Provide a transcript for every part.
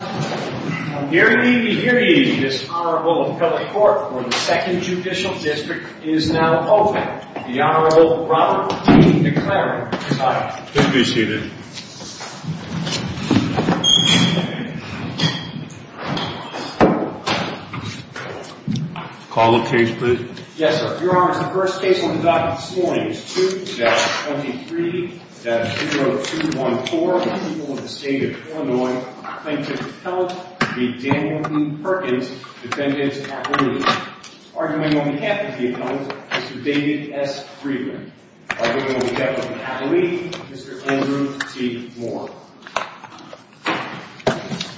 I'm here to give you this Honorable Appellate Court for the 2nd Judicial District is now open. The Honorable Robert E. DeClaro, retired. Please be seated. Call the case, please. Yes, sir. Your Honor, the first case on the docket this morning is 2-23-0214, a plaintiff from the state of Illinois claims to have helped the Daniel P. Perkins defendant's appellee. Arguing on behalf of the appellant, Mr. David S. Friedman. Arguing on behalf of the appellee, Mr. Andrew T. Moore.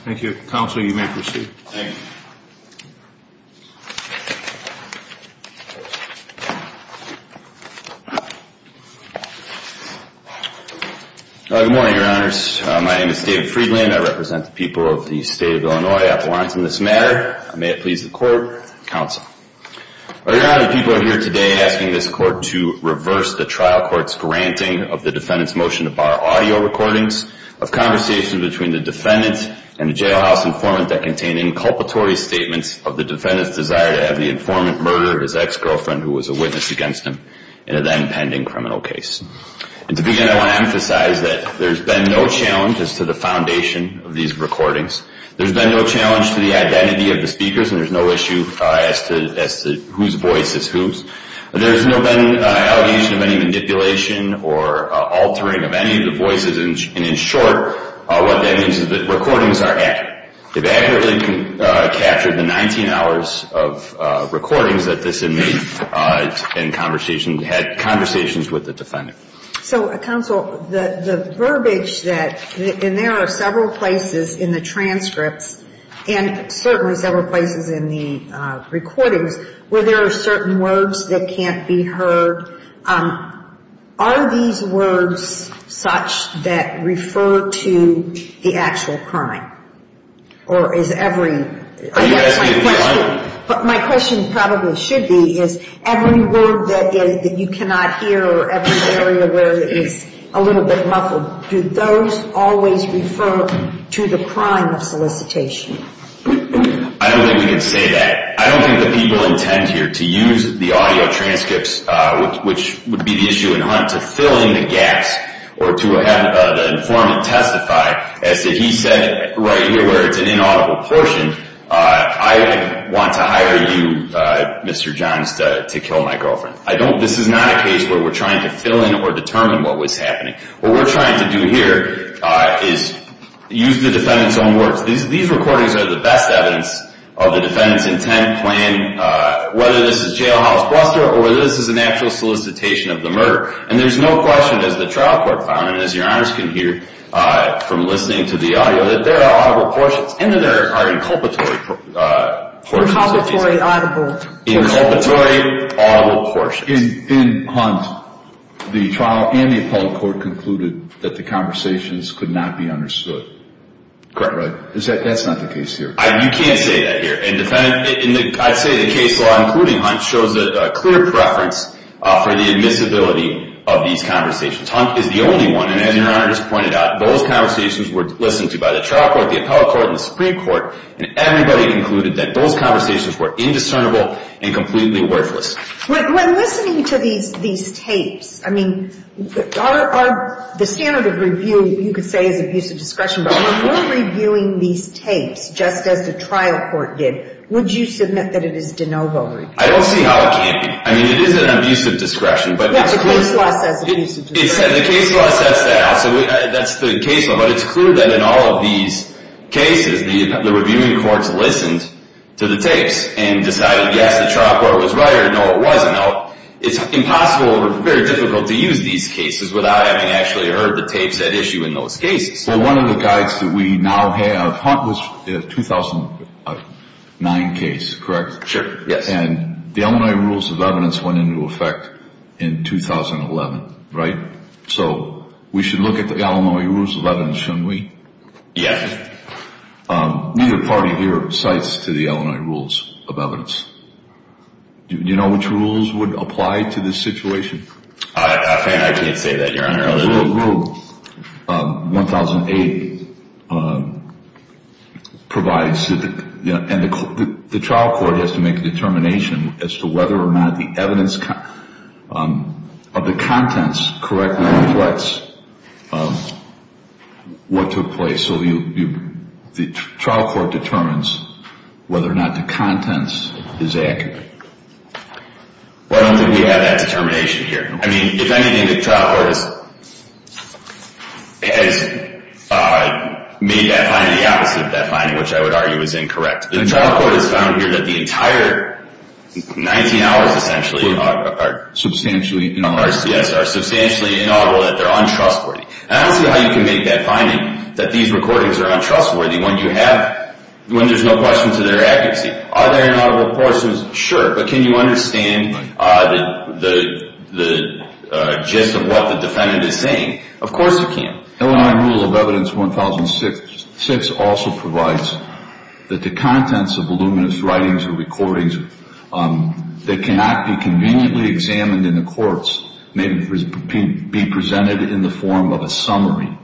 Thank you, Counsel. You may proceed. Thank you. Good morning, Your Honors. My name is David Friedman. I represent the people of the state of Illinois appellants in this matter. May it please the Court, Counsel. Your Honor, the people are here today asking this Court to reverse the trial court's granting of the defendant's motion to bar audio recordings of conversations between the defendant and a jailhouse informant that contained inculpatory statements of the defendant's desire to have the informant murder his ex-girlfriend, who was a witness against him, in a then-pending criminal case. And to begin, I want to emphasize that there's been no challenge as to the foundation of these recordings. There's been no challenge to the identity of the speakers, and there's no issue as to whose voice is whose. There's no been an allegation of any manipulation or altering of any of the voices. And in short, what that means is that recordings are accurate. They've accurately captured the 19 hours of recordings that this inmate had conversations with the defendant. So, Counsel, the verbiage that, and there are several places in the transcripts and certainly several places in the recordings where there are certain words that can't be heard, are these words such that refer to the actual crime? Or is every? My question probably should be, is every word that you cannot hear or every area where it is a little bit muffled, do those always refer to the crime of solicitation? I don't think we can say that. I don't think that people intend here to use the audio transcripts, which would be the issue in Hunt, to fill in the gaps or to have the informant testify as to he said right here where it's an inaudible portion, I want to hire you, Mr. Johns, to kill my girlfriend. This is not a case where we're trying to fill in or determine what was happening. What we're trying to do here is use the defendant's own words. These recordings are the best evidence of the defendant's intent, plan, whether this is jailhouse bluster or whether this is an actual solicitation of the murder. And there's no question, as the trial court found, and as your honors can hear from listening to the audio, that there are audible portions and that there are inculpatory portions. Inculpatory, audible portions. Inculpatory, audible portions. In Hunt, the trial and the appellate court concluded that the conversations could not be understood. Correct, right. That's not the case here. You can't say that here. And I'd say the case law, including Hunt, shows a clear preference for the admissibility of these conversations. Hunt is the only one, and as your honor just pointed out, those conversations were listened to by the trial court, the appellate court, and the Supreme Court, and everybody concluded that those conversations were indiscernible and completely worthless. When listening to these tapes, I mean, the standard of review, you could say, is abusive discretion. But when we're reviewing these tapes, just as the trial court did, would you submit that it is de novo review? I don't see how it can't be. I mean, it is an abusive discretion. Yes, the case law says it is an abusive discretion. The case law says that. So that's the case law. But it's clear that in all of these cases, the reviewing courts listened to the tapes and decided, yes, the trial court was right, or no, it wasn't. Now, it's impossible or very difficult to use these cases without having actually heard the tapes at issue in those cases. Well, one of the guides that we now have, Hunt, was a 2009 case, correct? Sure, yes. And the Illinois Rules of Evidence went into effect in 2011, right? So we should look at the Illinois Rules of Evidence, shouldn't we? Yes. Neither party here cites to the Illinois Rules of Evidence. Do you know which rules would apply to this situation? I can't say that, Your Honor. Rule 1008 provides that the trial court has to make a determination as to whether or not the evidence of the contents correctly reflects what took place. So the trial court determines whether or not the contents is accurate. Well, I don't think we have that determination here. I mean, if anything, the trial court has made that finding the opposite of that finding, which I would argue is incorrect. The trial court has found here that the entire 19 hours, essentially, are substantially inaudible. Yes, are substantially inaudible, that they're untrustworthy. I don't see how you can make that finding, that these recordings are untrustworthy when you have, when there's no question to their accuracy. Are there inaudible portions? Sure. But can you understand the gist of what the defendant is saying? Of course you can. Illinois Rule of Evidence 1006 also provides that the contents of voluminous writings or recordings that cannot be conveniently examined in the courts may be presented in the form of a summary.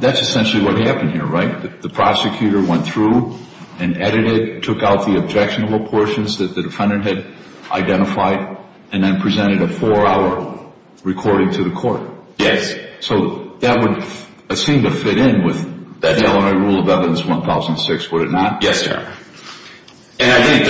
That's essentially what happened here, right? The prosecutor went through and edited, took out the objectionable portions that the defendant had identified, and then presented a four-hour recording to the court. Yes. So that would seem to fit in with Illinois Rule of Evidence 1006, would it not? Yes, sir. And I think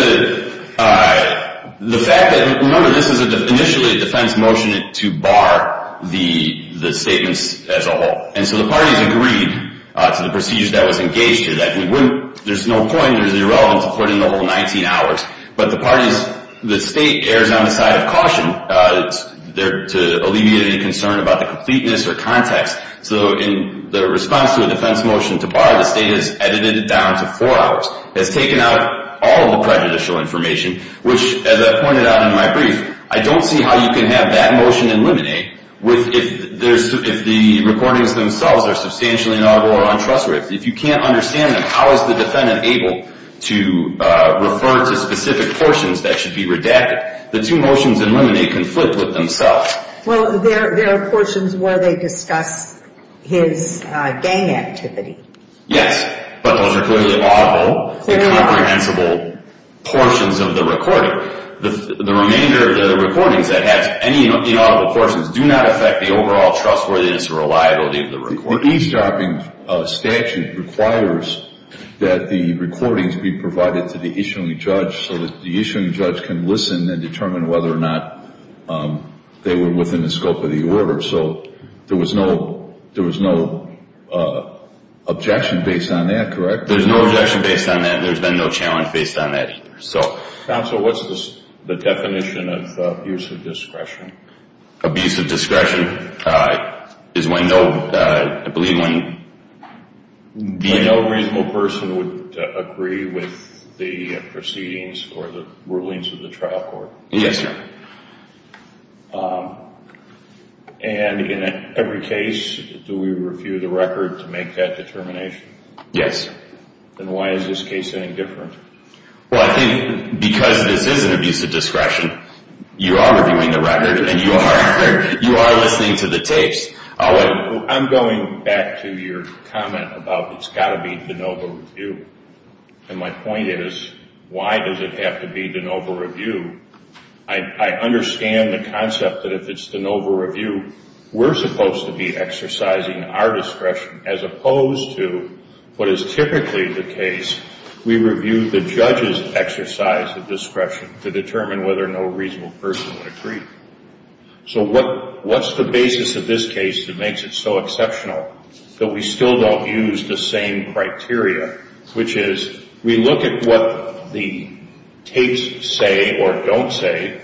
the fact that, remember, this is initially a defense motion to bar the statements as a whole. And so the parties agreed to the procedure that was engaged to that. There's no point, there's no relevance to putting the whole 19 hours. But the parties, the state errs on the side of caution to alleviate any concern about the completeness or context. So in the response to a defense motion to bar, the state has edited it down to four hours. It's taken out all the prejudicial information, which, as I pointed out in my brief, I don't see how you can have that motion in limine if the recordings themselves are substantially inaudible or untrustworthy. If you can't understand them, how is the defendant able to refer to specific portions that should be redacted? The two motions in limine conflict with themselves. Well, there are portions where they discuss his gang activity. Yes, but those are clearly audible. They're not reprehensible portions of the recording. The remainder of the recordings that have any inaudible portions do not affect the overall trustworthiness or reliability of the recording. The e-stopping statute requires that the recordings be provided to the issuing judge so that the issuing judge can listen and determine whether or not they were within the scope of the order. So there was no objection based on that, correct? There's no objection based on that, and there's been no challenge based on that either. Counsel, what's the definition of abusive discretion? Abusive discretion is when no reasonable person would agree with the proceedings or the rulings of the trial court. Yes, sir. And in every case, do we review the record to make that determination? Yes. Then why is this case any different? Well, I think because this is an abusive discretion, you are reviewing the record, and you are listening to the tapes. I'm going back to your comment about it's got to be de novo review, and my point is, why does it have to be de novo review? I understand the concept that if it's de novo review, we're supposed to be exercising our discretion as opposed to what is typically the case we review the judge's exercise of discretion to determine whether or no reasonable person would agree. So what's the basis of this case that makes it so exceptional that we still don't use the same criteria, which is we look at what the tapes say or don't say,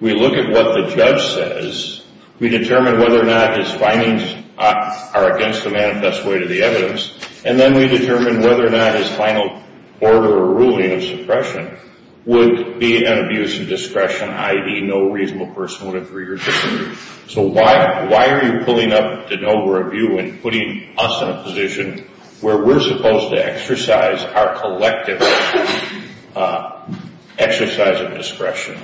we look at what the judge says, we determine whether or not his findings are against the manifest way to the evidence, and then we determine whether or not his final order or ruling of suppression would be an abusive discretion, i.e. no reasonable person would agree or disagree. So why are you pulling up de novo review and putting us in a position where we're supposed to exercise our collective exercise of discretion?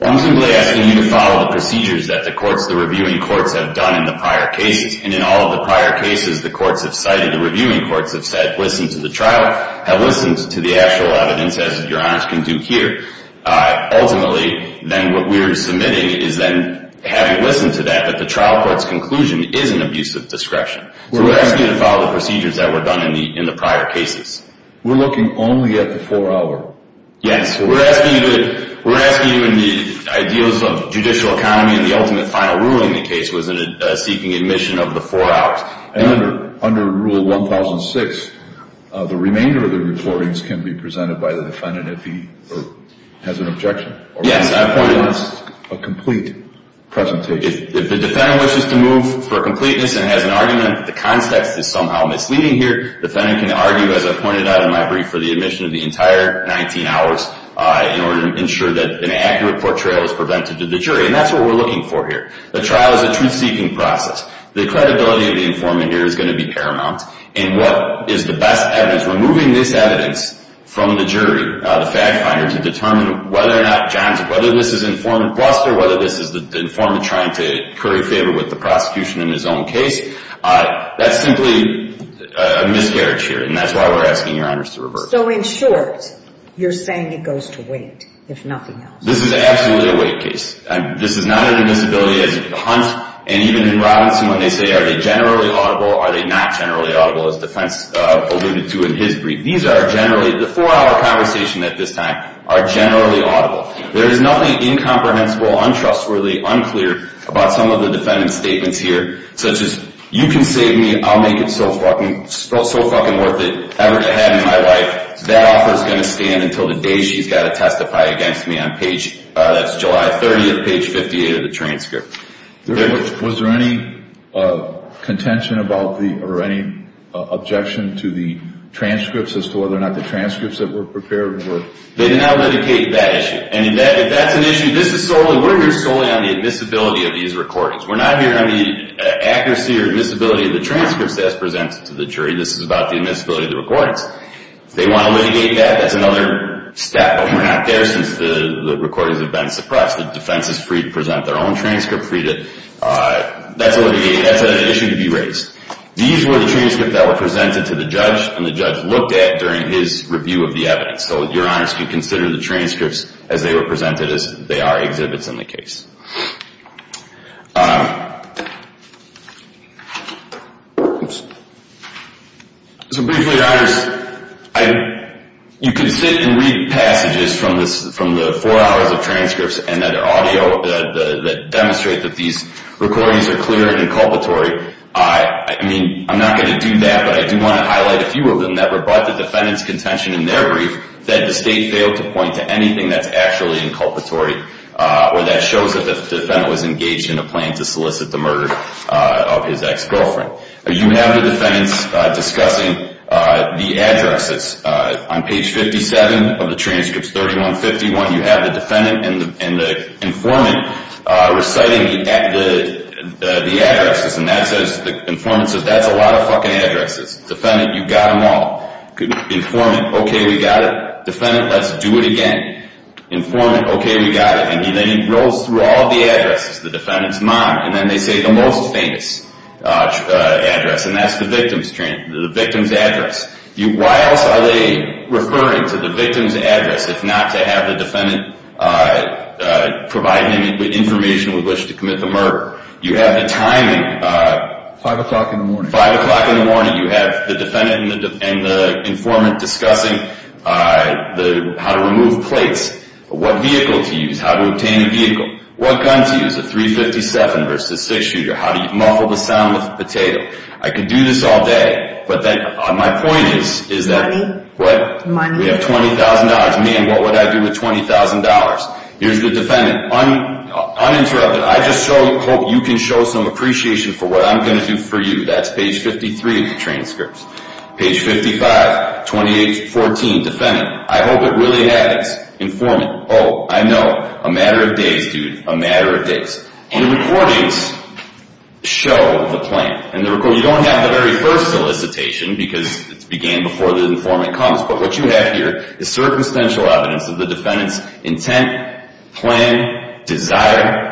Well, I'm simply asking you to follow the procedures that the courts, the reviewing courts, have done in the prior cases, and in all of the prior cases, the courts have cited, the reviewing courts have said, listen to the trial, have listened to the actual evidence, as Your Honor can do here. Ultimately, then what we're submitting is then having listened to that, that the trial court's conclusion is an abusive discretion. So we're asking you to follow the procedures that were done in the prior cases. We're looking only at the 4-hour. Yes. We're asking you in the ideals of judicial economy in the ultimate final ruling in the case, was it a seeking admission of the 4 hours? And under Rule 1006, the remainder of the reportings can be presented by the defendant if he has an objection. Yes. Or wants a complete presentation. If the defendant wishes to move for completeness and has an argument that the context is somehow misleading here, the defendant can argue, as I pointed out in my brief, for the admission of the entire 19 hours in order to ensure that an accurate portrayal is prevented to the jury. And that's what we're looking for here. The trial is a truth-seeking process. The credibility of the informant here is going to be paramount. And what is the best evidence, removing this evidence from the jury, the fact finder, to determine whether or not John's, whether this is informant bluster, whether this is the informant trying to curry favor with the prosecution in his own case, that's simply a miscarriage here. And that's why we're asking your honors to revert. So in short, you're saying it goes to wait, if nothing else. This is absolutely a wait case. This is not an admissibility as a hunt. And even in Robinson, when they say, are they generally audible, are they not generally audible, as the defense alluded to in his brief, these are generally, the four-hour conversation at this time, are generally audible. There is nothing incomprehensible, untrustworthy, unclear about some of the defendant's statements here, such as, you can save me, I'll make it so fucking worth it ever to have in my life. That offer is going to stand until the day she's got to testify against me on page, that's July 30th, page 58 of the transcript. Was there any contention about the, or any objection to the transcripts, as to whether or not the transcripts that were prepared were? They did not litigate that issue. And if that's an issue, this is solely, we're here solely on the admissibility of these recordings. We're not here on the accuracy or admissibility of the transcripts as presented to the jury. This is about the admissibility of the recordings. If they want to litigate that, that's another step. But we're not there since the recordings have been suppressed. The defense is free to present their own transcript, free to, that's a litigation, that's an issue to be raised. These were the transcripts that were presented to the judge, and the judge looked at during his review of the evidence. So your honors can consider the transcripts as they were presented, as they are exhibits in the case. So briefly, your honors, you can sit and read passages from the four hours of transcripts and that are audio, that demonstrate that these recordings are clear and inculpatory. I mean, I'm not going to do that, but I do want to highlight a few of them that rebut the defendant's contention in their brief, that the state failed to point to anything that's actually inculpatory, or that shows that the defendant was engaged in a plan to solicit the murder of his ex-girlfriend. You have the defendants discussing the addresses. On page 57 of the transcripts, 3151, you have the defendant and the informant reciting the addresses. And that says, the informant says, that's a lot of fucking addresses. Defendant, you got them all. Informant, okay, we got it. Defendant, let's do it again. Informant, okay, we got it. And then he rolls through all the addresses. The defendant's mom, and then they say the most famous address, and that's the victim's address. Why else are they referring to the victim's address if not to have the defendant provide any information with which to commit the murder? You have the timing. Five o'clock in the morning. Five o'clock in the morning. You have the defendant and the informant discussing how to remove plates, what vehicle to use, how to obtain a vehicle, what gun to use, a .357 versus a six-shooter, how to muffle the sound with a potato. I could do this all day, but my point is that we have $20,000. Man, what would I do with $20,000? Here's the defendant. Uninterrupted, I just hope you can show some appreciation for what I'm going to do for you. That's page 53 of the transcript. Page 55, 2814. Defendant, I hope it really happens. Informant, oh, I know. A matter of days, dude, a matter of days. And the recordings show the plan. You don't have the very first solicitation because it began before the informant comes, but what you have here is circumstantial evidence of the defendant's intent, plan, desire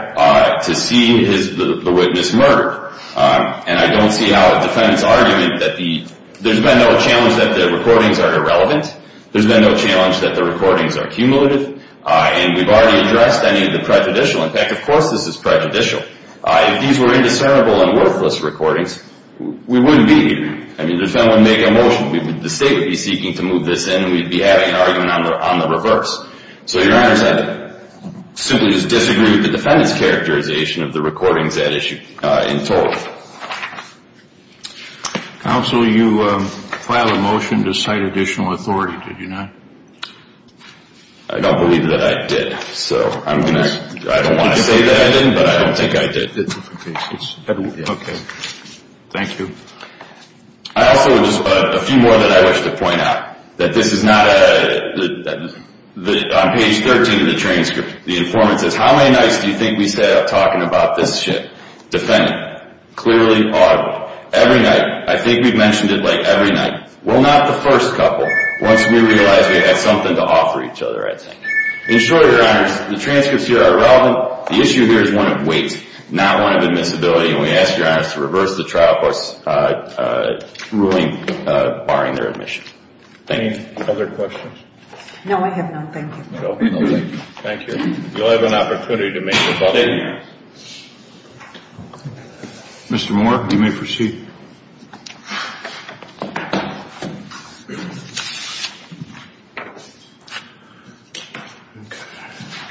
to see the witness murdered. And I don't see how a defendant's argument that the there's been no challenge that the recordings are irrelevant. There's been no challenge that the recordings are cumulative. And we've already addressed any of the prejudicial. In fact, of course this is prejudicial. If these were indiscernible and worthless recordings, we wouldn't be here. I mean, the defendant would make a motion. The state would be seeking to move this in, and we'd be having an argument on the reverse. So your honors, I simply just disagree with the defendant's characterization of the recordings that issue in total. Counsel, you filed a motion to cite additional authority, did you not? I don't believe that I did. So I'm going to – I don't want to say that I didn't, but I don't think I did. Okay. Thank you. I also just – a few more that I wish to point out. That this is not a – on page 13 of the transcript, the informant says, How many nights do you think we set up talking about this shit? Defendant, clearly audible. Every night. I think we've mentioned it like every night. Well, not the first couple. Once we realize we have something to offer each other, I'd say. In short, your honors, the transcripts here are relevant. The issue here is one of weight, not one of admissibility, and we ask your honors to reverse the trial court's ruling barring their admission. Any other questions? No, I have none. Thank you. Thank you. Thank you. You'll have an opportunity to make the buffeting. Mr. Moore, you may proceed.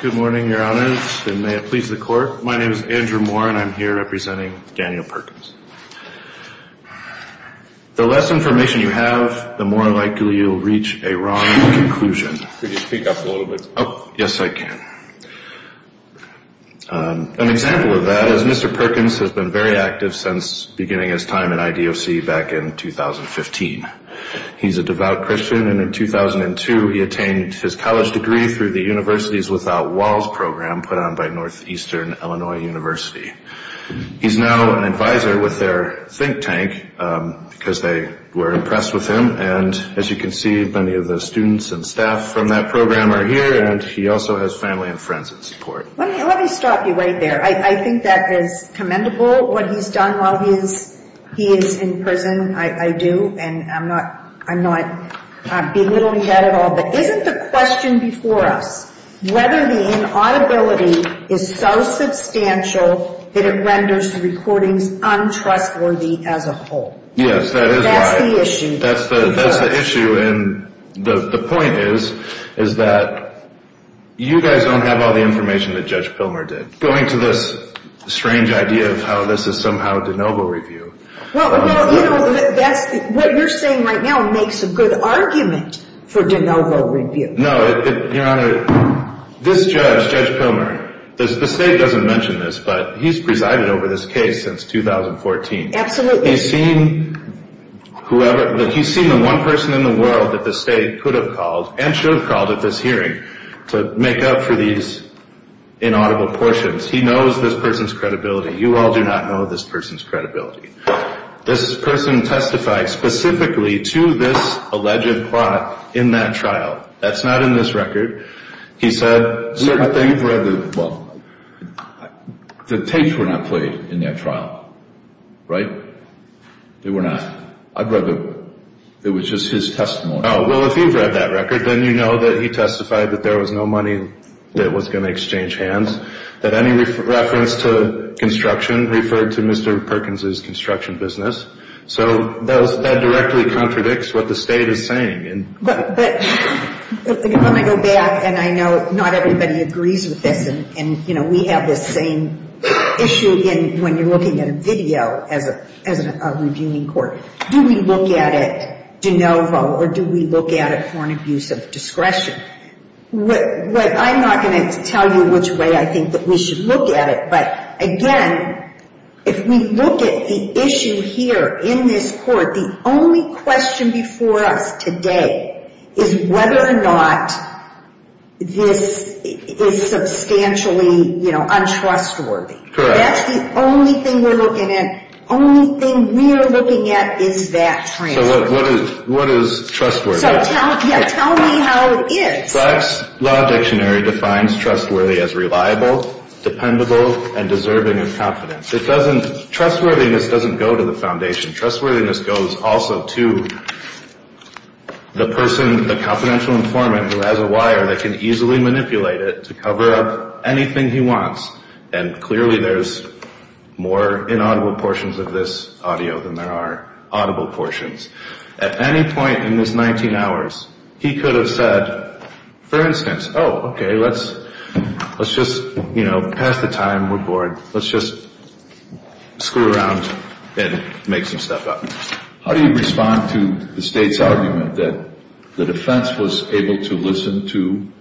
Good morning, your honors, and may it please the court. My name is Andrew Moore, and I'm here representing Daniel Perkins. The less information you have, the more likely you'll reach a wrong conclusion. Could you speak up a little bit? Yes, I can. An example of that is Mr. Perkins has been very active since beginning his time in IDOC back in 2015. He's a devout Christian, and in 2002 he attained his college degree through the Universities Without Walls program put on by Northeastern Illinois University. He's now an advisor with their think tank because they were impressed with him, and as you can see, many of the students and staff from that program are here, and he also has family and friends in support. Let me stop you right there. I think that is commendable, what he's done while he is in prison. I do, and I'm not belittling that at all. But isn't the question before us whether the inaudibility is so substantial that it renders recordings untrustworthy as a whole? Yes, that is right. That's the issue. That's the issue, and the point is that you guys don't have all the information that Judge Pilmer did. Going to this strange idea of how this is somehow de novo review. Well, you know, what you're saying right now makes a good argument for de novo review. No, Your Honor, this judge, Judge Pilmer, the state doesn't mention this, but he's presided over this case since 2014. Absolutely. He's seen the one person in the world that the state could have called and should have called at this hearing to make up for these inaudible portions. He knows this person's credibility. You all do not know this person's credibility. This person testified specifically to this alleged plot in that trial. That's not in this record. Well, the tapes were not played in that trial. Right? They were not. I'd rather it was just his testimony. Well, if you've read that record, then you know that he testified that there was no money that was going to exchange hands, that any reference to construction referred to Mr. Perkins' construction business. So that directly contradicts what the state is saying. But let me go back, and I know not everybody agrees with this, and we have this same issue when you're looking at a video as a reviewing court. Do we look at it de novo, or do we look at it for an abuse of discretion? I'm not going to tell you which way I think that we should look at it, but, again, if we look at the issue here in this court, the only question before us today is whether or not this is substantially untrustworthy. Correct. That's the only thing we're looking at. The only thing we're looking at is that transcript. So what is trustworthy? So tell me how it is. Black's Law Dictionary defines trustworthy as reliable, dependable, and deserving of confidence. Trustworthiness doesn't go to the foundation. Trustworthiness goes also to the person, the confidential informant, who has a wire that can easily manipulate it to cover up anything he wants, and clearly there's more inaudible portions of this audio than there are audible portions. At any point in this 19 hours, he could have said, for instance, oh, okay, let's just, you know, pass the time. Let's just screw around and make some stuff up. How do you respond to the State's argument that the defense was able to listen to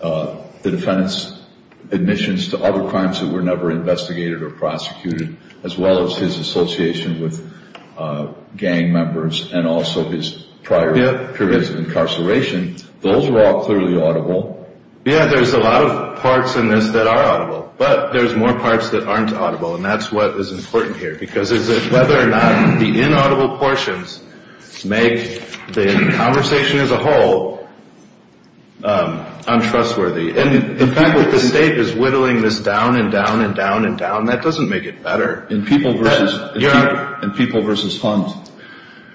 the defendant's admissions to other crimes that were never investigated or prosecuted, as well as his association with gang members and also his prior periods of incarceration? Those are all clearly audible. Yeah, there's a lot of parts in this that are audible, but there's more parts that aren't audible, and that's what is important here, because it's whether or not the inaudible portions make the conversation as a whole untrustworthy. And the fact that the State is whittling this down and down and down and down, that doesn't make it better. In People v. Hunt,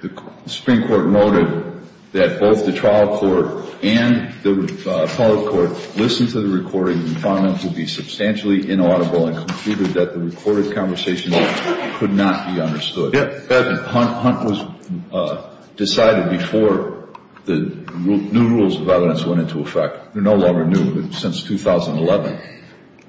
the Supreme Court noted that both the trial court and the public court listened to the recording and found them to be substantially inaudible and concluded that the recorded conversation could not be understood. Hunt was decided before the new rules of evidence went into effect. They're no longer new, but since 2011.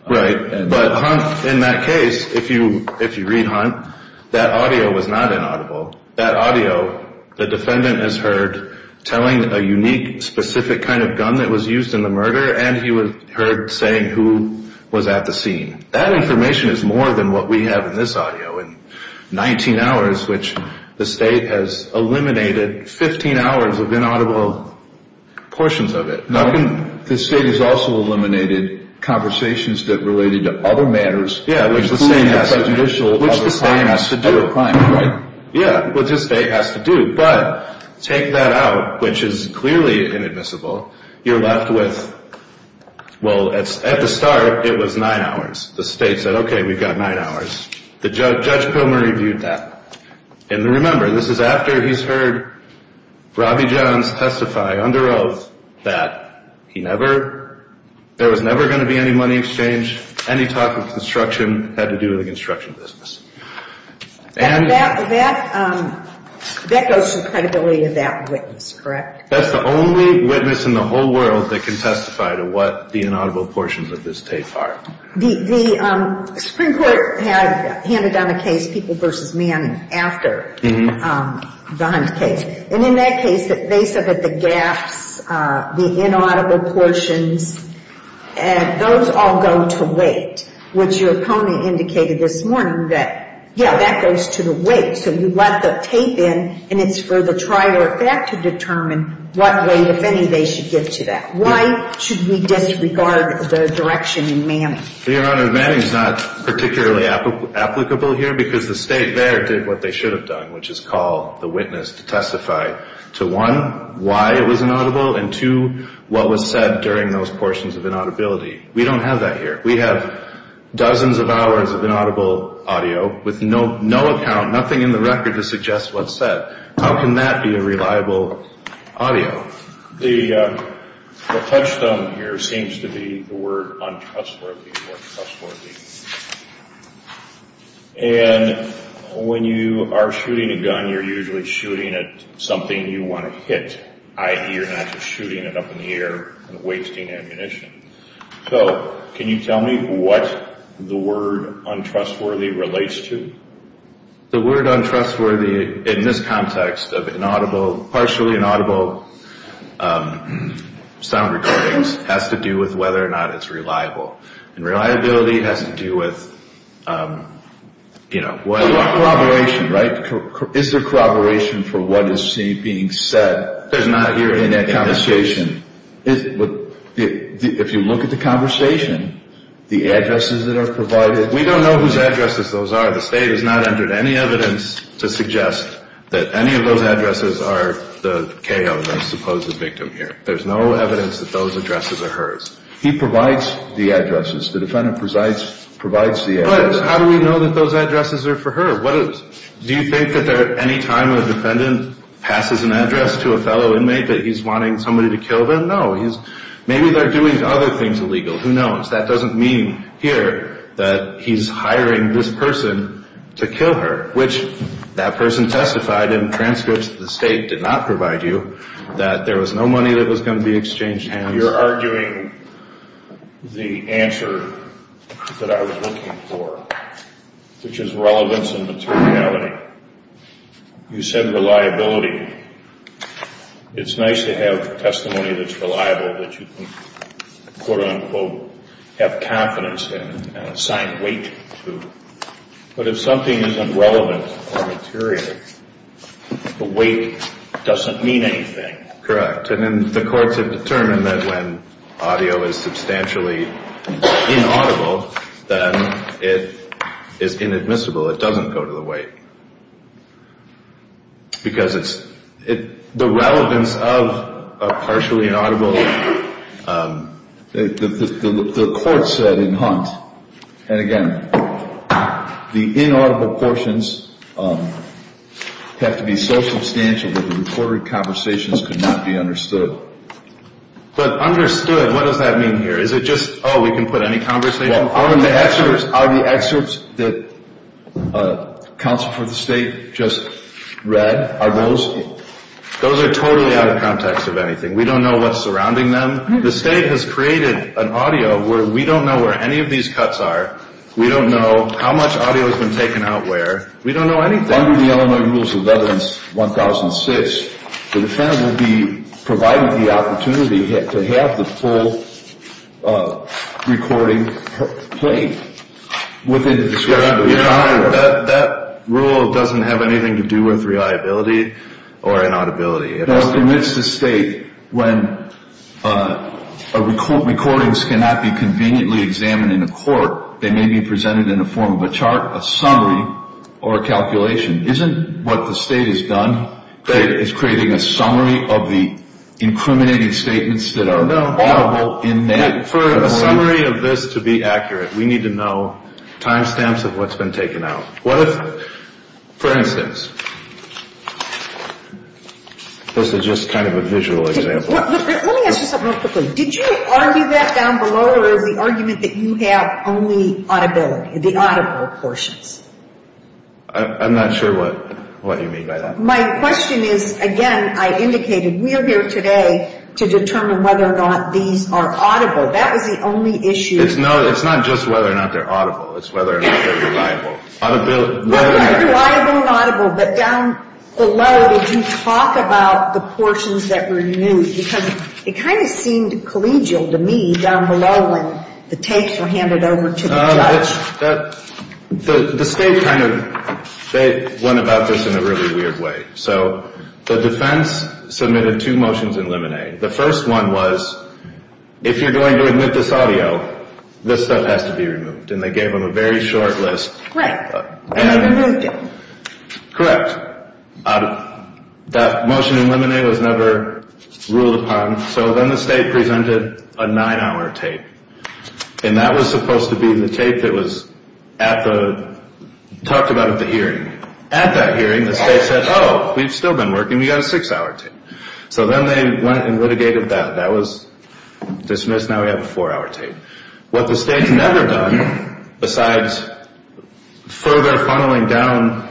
Right, but Hunt, in that case, if you read Hunt, that audio was not inaudible. That audio, the defendant has heard telling a unique, specific kind of gun that was used in the murder, and he heard saying who was at the scene. That information is more than what we have in this audio. In 19 hours, which the State has eliminated, 15 hours of inaudible portions of it. The State has also eliminated conversations that related to other matters. Yeah, which the State has to do. Yeah, which the State has to do, but take that out, which is clearly inadmissible. You're left with, well, at the start, it was nine hours. The State said, okay, we've got nine hours. Judge Pilmer reviewed that. And remember, this is after he's heard Robbie Johns testify under oath that he never, there was never going to be any money exchange, any talk of construction had to do with the construction business. That goes to the credibility of that witness, correct? That's the only witness in the whole world that can testify to what the inaudible portions of this tape are. The Supreme Court had handed down a case, People v. Manning, after the Hunt case. And in that case, they said that the gaps, the inaudible portions, those all go to weight, which your opponent indicated this morning that, yeah, that goes to the weight. So you let the tape in, and it's for the trial effect to determine what weight, if any, they should give to that. Why should we disregard the direction in Manning? Your Honor, Manning is not particularly applicable here because the State there did what they should have done, which is call the witness to testify to, one, why it was inaudible, and, two, what was said during those portions of inaudibility. We don't have that here. We have dozens of hours of inaudible audio with no account, nothing in the record to suggest what's said. How can that be a reliable audio? The touchstone here seems to be the word untrustworthy or trustworthy. And when you are shooting a gun, you're usually shooting at something you want to hit. You're not just shooting it up in the air and wasting ammunition. So can you tell me what the word untrustworthy relates to? The word untrustworthy, in this context of partially inaudible sound recordings, has to do with whether or not it's reliable. And reliability has to do with, you know, what... Is there corroboration, right? Is there corroboration for what is being said? There's not here in that conversation. If you look at the conversation, the addresses that are provided... We don't know whose addresses those are. The State has not entered any evidence to suggest that any of those addresses are the KO, the supposed victim here. There's no evidence that those addresses are hers. He provides the addresses. The defendant provides the addresses. But how do we know that those addresses are for her? Do you think that any time a defendant passes an address to a fellow inmate that he's wanting somebody to kill them? No. Maybe they're doing other things illegal. Who knows? That doesn't mean here that he's hiring this person to kill her, which that person testified in transcripts that the State did not provide you, that there was no money that was going to be exchanged hands. You're arguing the answer that I was looking for, which is relevance and materiality. You said reliability. It's nice to have testimony that's reliable that you can, quote-unquote, have confidence in and assign weight to. But if something isn't relevant or material, the weight doesn't mean anything. Correct. And the courts have determined that when audio is substantially inaudible, then it is inadmissible. It doesn't go to the weight. Because the relevance of partially inaudible, the court said in Hunt, and again, the inaudible portions have to be so substantial that the recorded conversations could not be understood. But understood, what does that mean here? Is it just, oh, we can put any conversation? Are the excerpts that counsel for the State just read, are those? Those are totally out of context of anything. We don't know what's surrounding them. The State has created an audio where we don't know where any of these cuts are. We don't know how much audio has been taken out where. We don't know anything. Under the Illinois Rules of Relevance 1006, the defendant will be provided the opportunity to have the full recording played within the discretion of the defendant. That rule doesn't have anything to do with reliability or inaudibility. It permits the State, when recordings cannot be conveniently examined in a court, they may be presented in the form of a chart, a summary, or a calculation. Isn't what the State has done is creating a summary of the incriminating statements that are audible in that? For a summary of this to be accurate, we need to know time stamps of what's been taken out. What if, for instance, this is just kind of a visual example. Let me ask you something real quickly. Did you argue that down below or is the argument that you have only audibility, the audible portions? I'm not sure what you mean by that. My question is, again, I indicated we are here today to determine whether or not these are audible. That was the only issue. It's not just whether or not they're audible. It's whether or not they're reliable. Reliable and audible, but down below, did you talk about the portions that were new? Because it kind of seemed collegial to me down below when the tapes were handed over to the judge. The State kind of went about this in a really weird way. So the defense submitted two motions in limine. The first one was, if you're going to admit this audio, this stuff has to be removed. And they gave them a very short list. Right, and they removed it. Correct. That motion in limine was never ruled upon. So then the State presented a nine-hour tape. And that was supposed to be the tape that was talked about at the hearing. At that hearing, the State said, oh, we've still been working. We've got a six-hour tape. So then they went and litigated that. That was dismissed. Now we have a four-hour tape. What the State's never done, besides further funneling down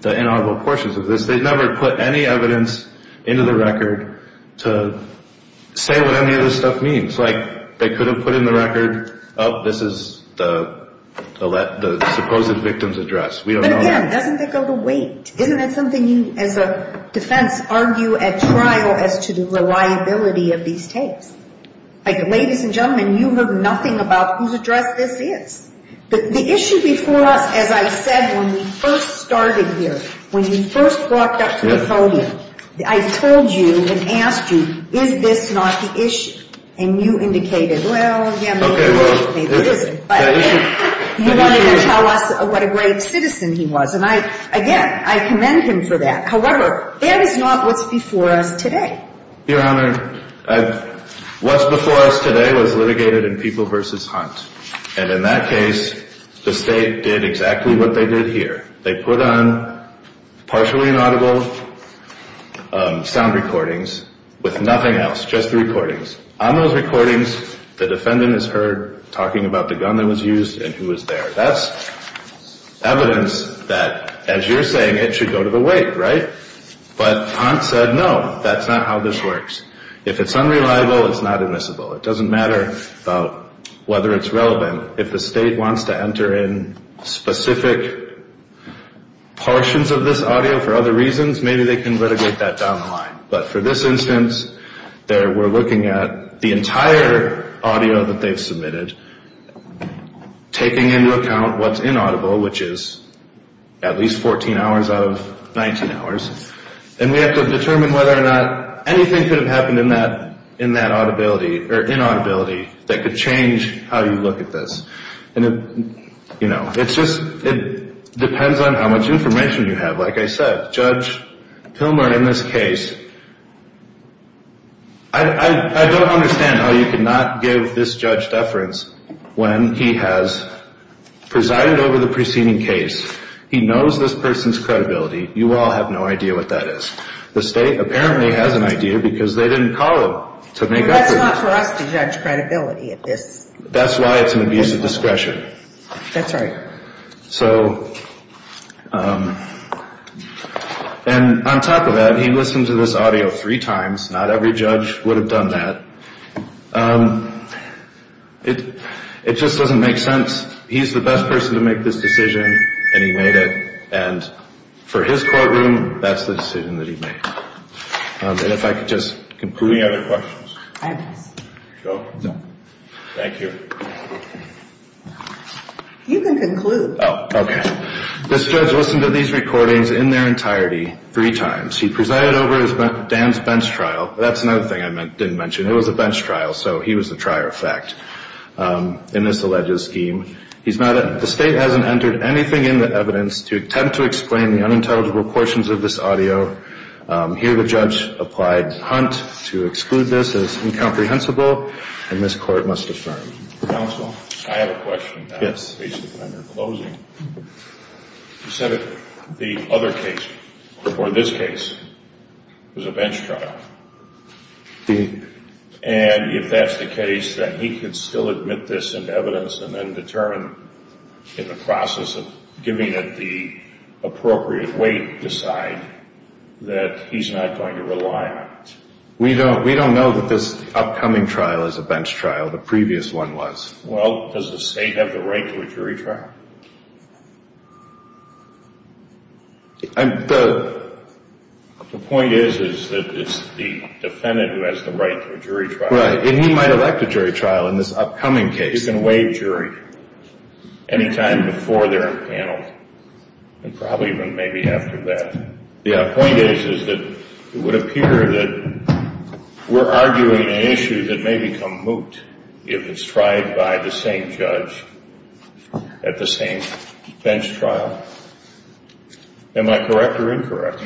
the inaudible portions of this, they've never put any evidence into the record to say what any of this stuff means. Like they could have put in the record, oh, this is the supposed victim's address. But, again, doesn't that go to wait? Isn't that something you, as a defense, argue at trial as to the reliability of these tapes? Like, ladies and gentlemen, you heard nothing about whose address this is. But the issue before us, as I said when we first started here, when we first walked up to the podium, I told you and asked you, is this not the issue? And you indicated, well, yeah, maybe it is. But, again, you wanted to tell us what a great citizen he was. And, again, I commend him for that. However, that is not what's before us today. Your Honor, what's before us today was litigated in People v. Hunt. And in that case, the State did exactly what they did here. They put on partially inaudible sound recordings with nothing else, just the recordings. On those recordings, the defendant is heard talking about the gun that was used and who was there. That's evidence that, as you're saying, it should go to the wait, right? But Hunt said, no, that's not how this works. If it's unreliable, it's not admissible. It doesn't matter about whether it's relevant. If the State wants to enter in specific portions of this audio for other reasons, maybe they can litigate that down the line. But for this instance, we're looking at the entire audio that they've submitted, taking into account what's inaudible, which is at least 14 hours out of 19 hours. And we have to determine whether or not anything could have happened in that inaudibility that could change how you look at this. And, you know, it depends on how much information you have. Like I said, Judge Pilmer in this case, I don't understand how you could not give this judge deference when he has presided over the preceding case. He knows this person's credibility. You all have no idea what that is. The State apparently has an idea because they didn't call him to make evidence. That's not for us to judge credibility at this. That's why it's an abuse of discretion. That's right. So, and on top of that, he listened to this audio three times. Not every judge would have done that. It just doesn't make sense. He's the best person to make this decision, and he made it. And for his courtroom, that's the decision that he made. And if I could just conclude. Any other questions? No. Thank you. You can conclude. Oh, okay. This judge listened to these recordings in their entirety three times. He presided over Dan's bench trial. That's another thing I didn't mention. It was a bench trial, so he was the trier of fact in this alleged scheme. He's not in. The State hasn't entered anything in the evidence to attempt to explain the unintelligible portions of this audio. Here the judge applied Hunt to exclude this as incomprehensible, and this Court must affirm. Counsel, I have a question. Yes. Based upon your closing. You said that the other case, or this case, was a bench trial. And if that's the case, that he could still admit this in evidence and then determine in the process of giving it the appropriate weight to decide that he's not going to rely on it? We don't know that this upcoming trial is a bench trial. The previous one was. Well, does the State have the right to a jury trial? The point is that it's the defendant who has the right to a jury trial. Right. And he might elect a jury trial in this upcoming case. He can waive jury any time before they're in panel, and probably even maybe after that. The point is that it would appear that we're arguing an issue that may become moot if it's tried by the same judge at the same bench trial. Am I correct or incorrect?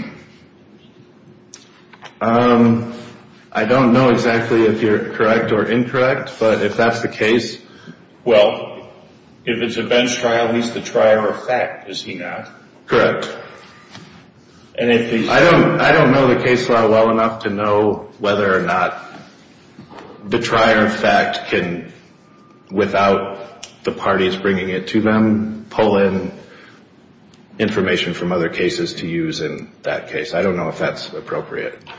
I don't know exactly if you're correct or incorrect, but if that's the case, well, if it's a bench trial, he's the trier of fact, is he not? Correct. I don't know the case law well enough to know whether or not the trier of fact can, without the parties bringing it to them, pull in information from other cases to use in that case. I don't know if that's appropriate. Do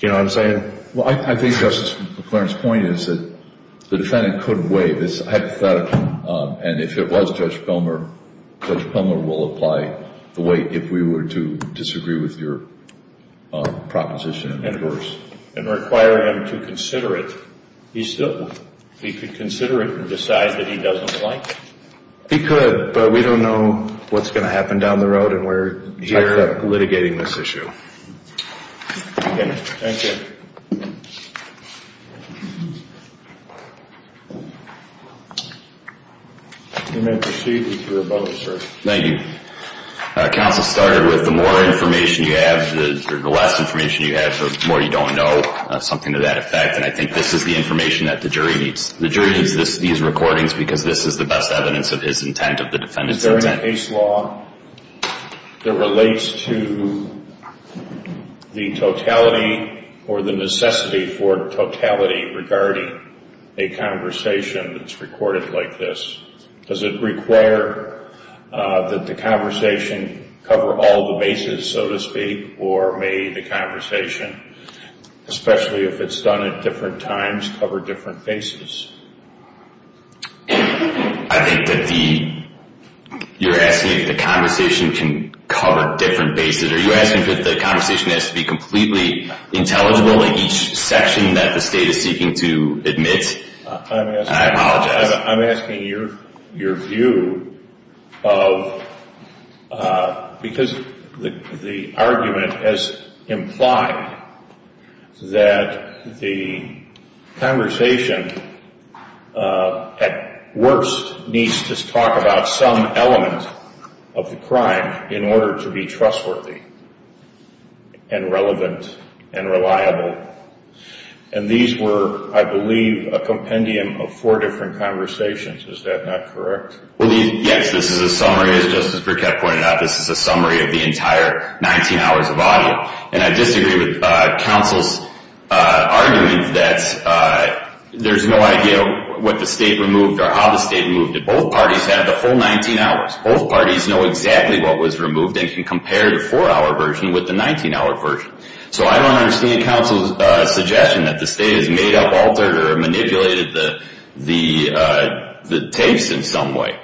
you know what I'm saying? Well, I think Justice McLaren's point is that the defendant could waive. This is hypothetical, and if it was Judge Comer, Judge Comer will apply the weight if we were to disagree with your proposition. And require him to consider it. He could consider it and decide that he doesn't like it. He could, but we don't know what's going to happen down the road, and we're typed up litigating this issue. Thank you. You may proceed with your vote, sir. Thank you. Counsel started with the more information you have, the less information you have, the more you don't know, something to that effect, and I think this is the information that the jury needs. The jury needs these recordings because this is the best evidence of his intent, of the defendant's intent. Is there a case law that relates to the totality or the necessity for totality regarding a conversation that's recorded like this? Does it require that the conversation cover all the bases, so to speak, or may the conversation, especially if it's done at different times, cover different bases? I think that you're asking if the conversation can cover different bases. Are you asking if the conversation has to be completely intelligible in each section that the state is seeking to admit? I apologize. I'm asking your view of, because the argument has implied that the conversation at worst needs to talk about some element of the crime in order to be trustworthy and relevant and reliable, and these were, I believe, a compendium of four different conversations. Is that not correct? Yes, this is a summary, as Justice Brickett pointed out. This is a summary of the entire 19 hours of audio, and I disagree with counsel's argument that there's no idea what the state removed or how the state removed it. Both parties have the full 19 hours. Both parties know exactly what was removed and can compare the 4-hour version with the 19-hour version. So I don't understand counsel's suggestion that the state has made up, altered, or manipulated the tapes in some way.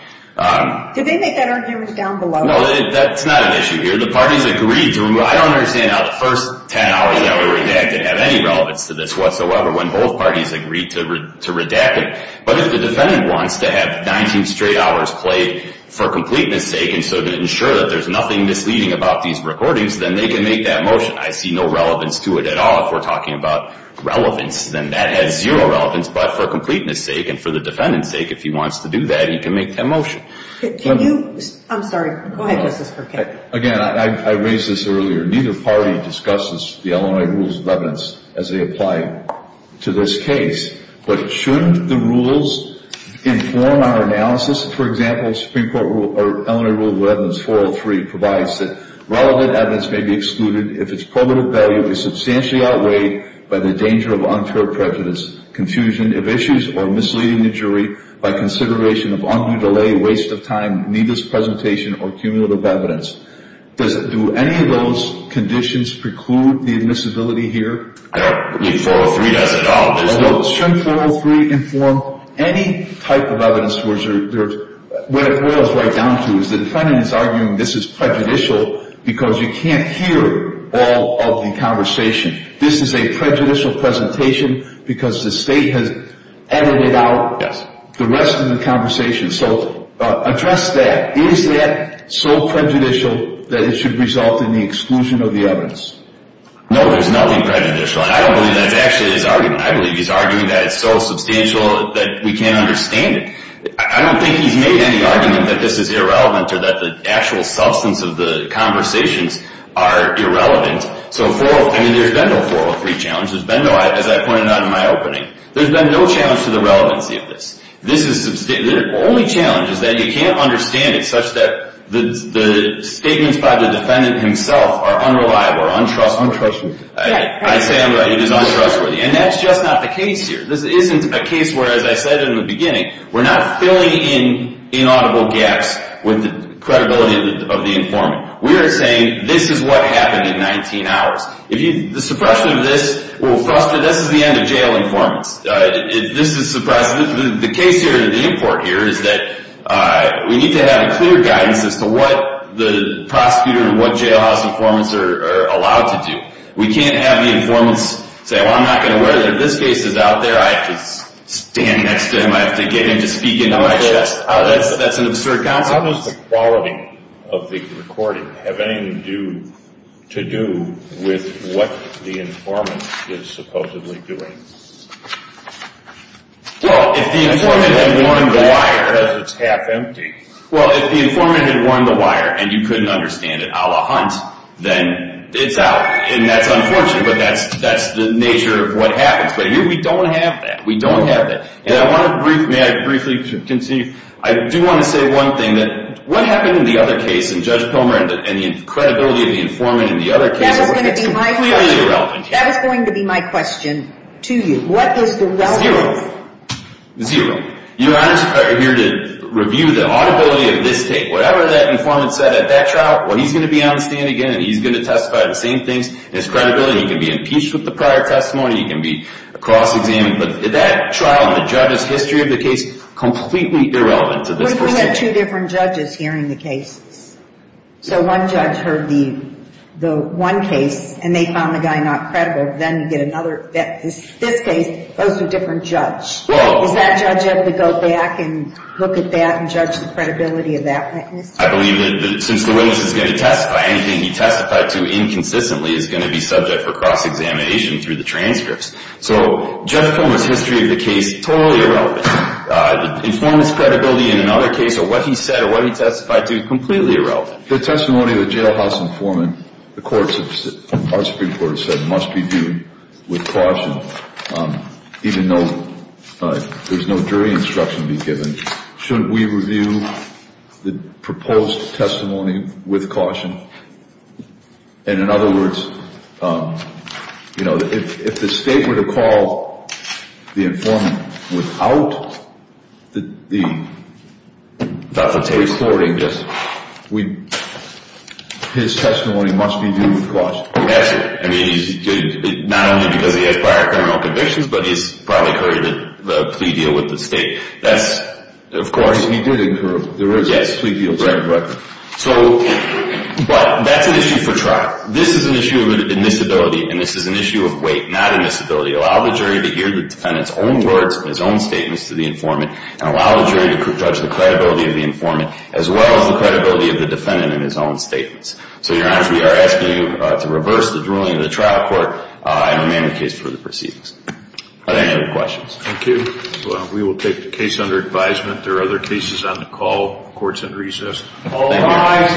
Did they make that argument down below? No, that's not an issue here. The parties agreed to remove. I don't understand how the first 10 hours that were redacted have any relevance to this whatsoever when both parties agreed to redact it. But if the defendant wants to have 19 straight hours played for completeness sake and so to ensure that there's nothing misleading about these recordings, then they can make that motion. I see no relevance to it at all if we're talking about relevance. Then that has zero relevance, but for completeness sake and for the defendant's sake, if he wants to do that, he can make that motion. Can you? I'm sorry. Go ahead, Justice Brickett. Again, I raised this earlier. Neither party discusses the Illinois Rules of Evidence as they apply to this case. But shouldn't the rules inform our analysis? For example, Illinois Rule of Evidence 403 provides that relevant evidence may be excluded if its probative value is substantially outweighed by the danger of unfair prejudice, confusion of issues, or misleading the jury by consideration of undue delay, waste of time, needless presentation, or cumulative evidence. Do any of those conditions preclude the admissibility here? I don't believe 403 does at all. Although shouldn't 403 inform any type of evidence? What it boils right down to is the defendant is arguing this is prejudicial because you can't hear all of the conversation. This is a prejudicial presentation because the state has edited out the rest of the conversation. So address that. Is that so prejudicial that it should result in the exclusion of the evidence? No, there's nothing prejudicial. And I don't believe that's actually his argument. I believe he's arguing that it's so substantial that we can't understand it. I don't think he's made any argument that this is irrelevant or that the actual substance of the conversations are irrelevant. I mean, there's been no 403 challenge. As I pointed out in my opening, there's been no challenge to the relevancy of this. The only challenge is that you can't understand it such that the statements by the defendant himself are unreliable or untrustworthy. I say I'm right, it is untrustworthy. And that's just not the case here. This isn't a case where, as I said in the beginning, we're not filling in inaudible gaps with the credibility of the informant. We are saying this is what happened in 19 hours. The suppression of this will frustrate. This is the end of jail informants. This is suppression. The case here, the import here, is that we need to have a clear guidance as to what the prosecutor and what jailhouse informants are allowed to do. We can't have the informants say, well, I'm not going to worry that this case is out there. I have to stand next to him. I have to get him to speak into my chest. That's an absurd counsel. How does the quality of the recording have anything to do with what the informant is supposedly doing? Well, if the informant had worn the wire because it's half empty, well, if the informant had worn the wire and you couldn't understand it a la Hunt, then it's out. And that's unfortunate, but that's the nature of what happens. But here we don't have that. We don't have that. And I want to briefly, may I briefly concede, I do want to say one thing, that what happened in the other case, and Judge Pomer and the credibility of the informant in the other case, it's completely irrelevant here. That is going to be my question to you. What is the relevance? Your honors are here to review the audibility of this case. Whatever that informant said at that trial, well, he's going to be on the stand again, and he's going to testify to the same things as credibility. He can be impeached with the prior testimony. He can be cross-examined. But that trial and the judge's history of the case, completely irrelevant to this procedure. But we had two different judges hearing the cases. So one judge heard the one case, and they found the guy not credible. Then you get another. This case, those are different judge. Does that judge have to go back and look at that and judge the credibility of that witness? I believe that since the witness is going to testify, anything he testified to inconsistently is going to be subject for cross-examination through the transcripts. So Jeff Fulmer's history of the case, totally irrelevant. The informant's credibility in another case, or what he said or what he testified to, completely irrelevant. The testimony of the jailhouse informant, the Supreme Court has said must be viewed with caution, even though there's no jury instruction to be given. Shouldn't we review the proposed testimony with caution? And in other words, you know, if the state were to call the informant without the recording, his testimony must be viewed with caution. That's it. I mean, not only because he had prior criminal convictions, but he's probably incurred a plea deal with the state. Of course, he did incur a plea deal. So, but that's an issue for trial. This is an issue of admissibility, and this is an issue of weight, not admissibility. Allow the jury to hear the defendant's own words and his own statements to the informant, and allow the jury to judge the credibility of the informant, as well as the credibility of the defendant in his own statements. So, Your Honor, we are asking you to reverse the ruling of the trial court and amend the case for the proceedings. Are there any other questions? Thank you. We will take the case under advisement. There are other cases on the call, courts in recess. All rise.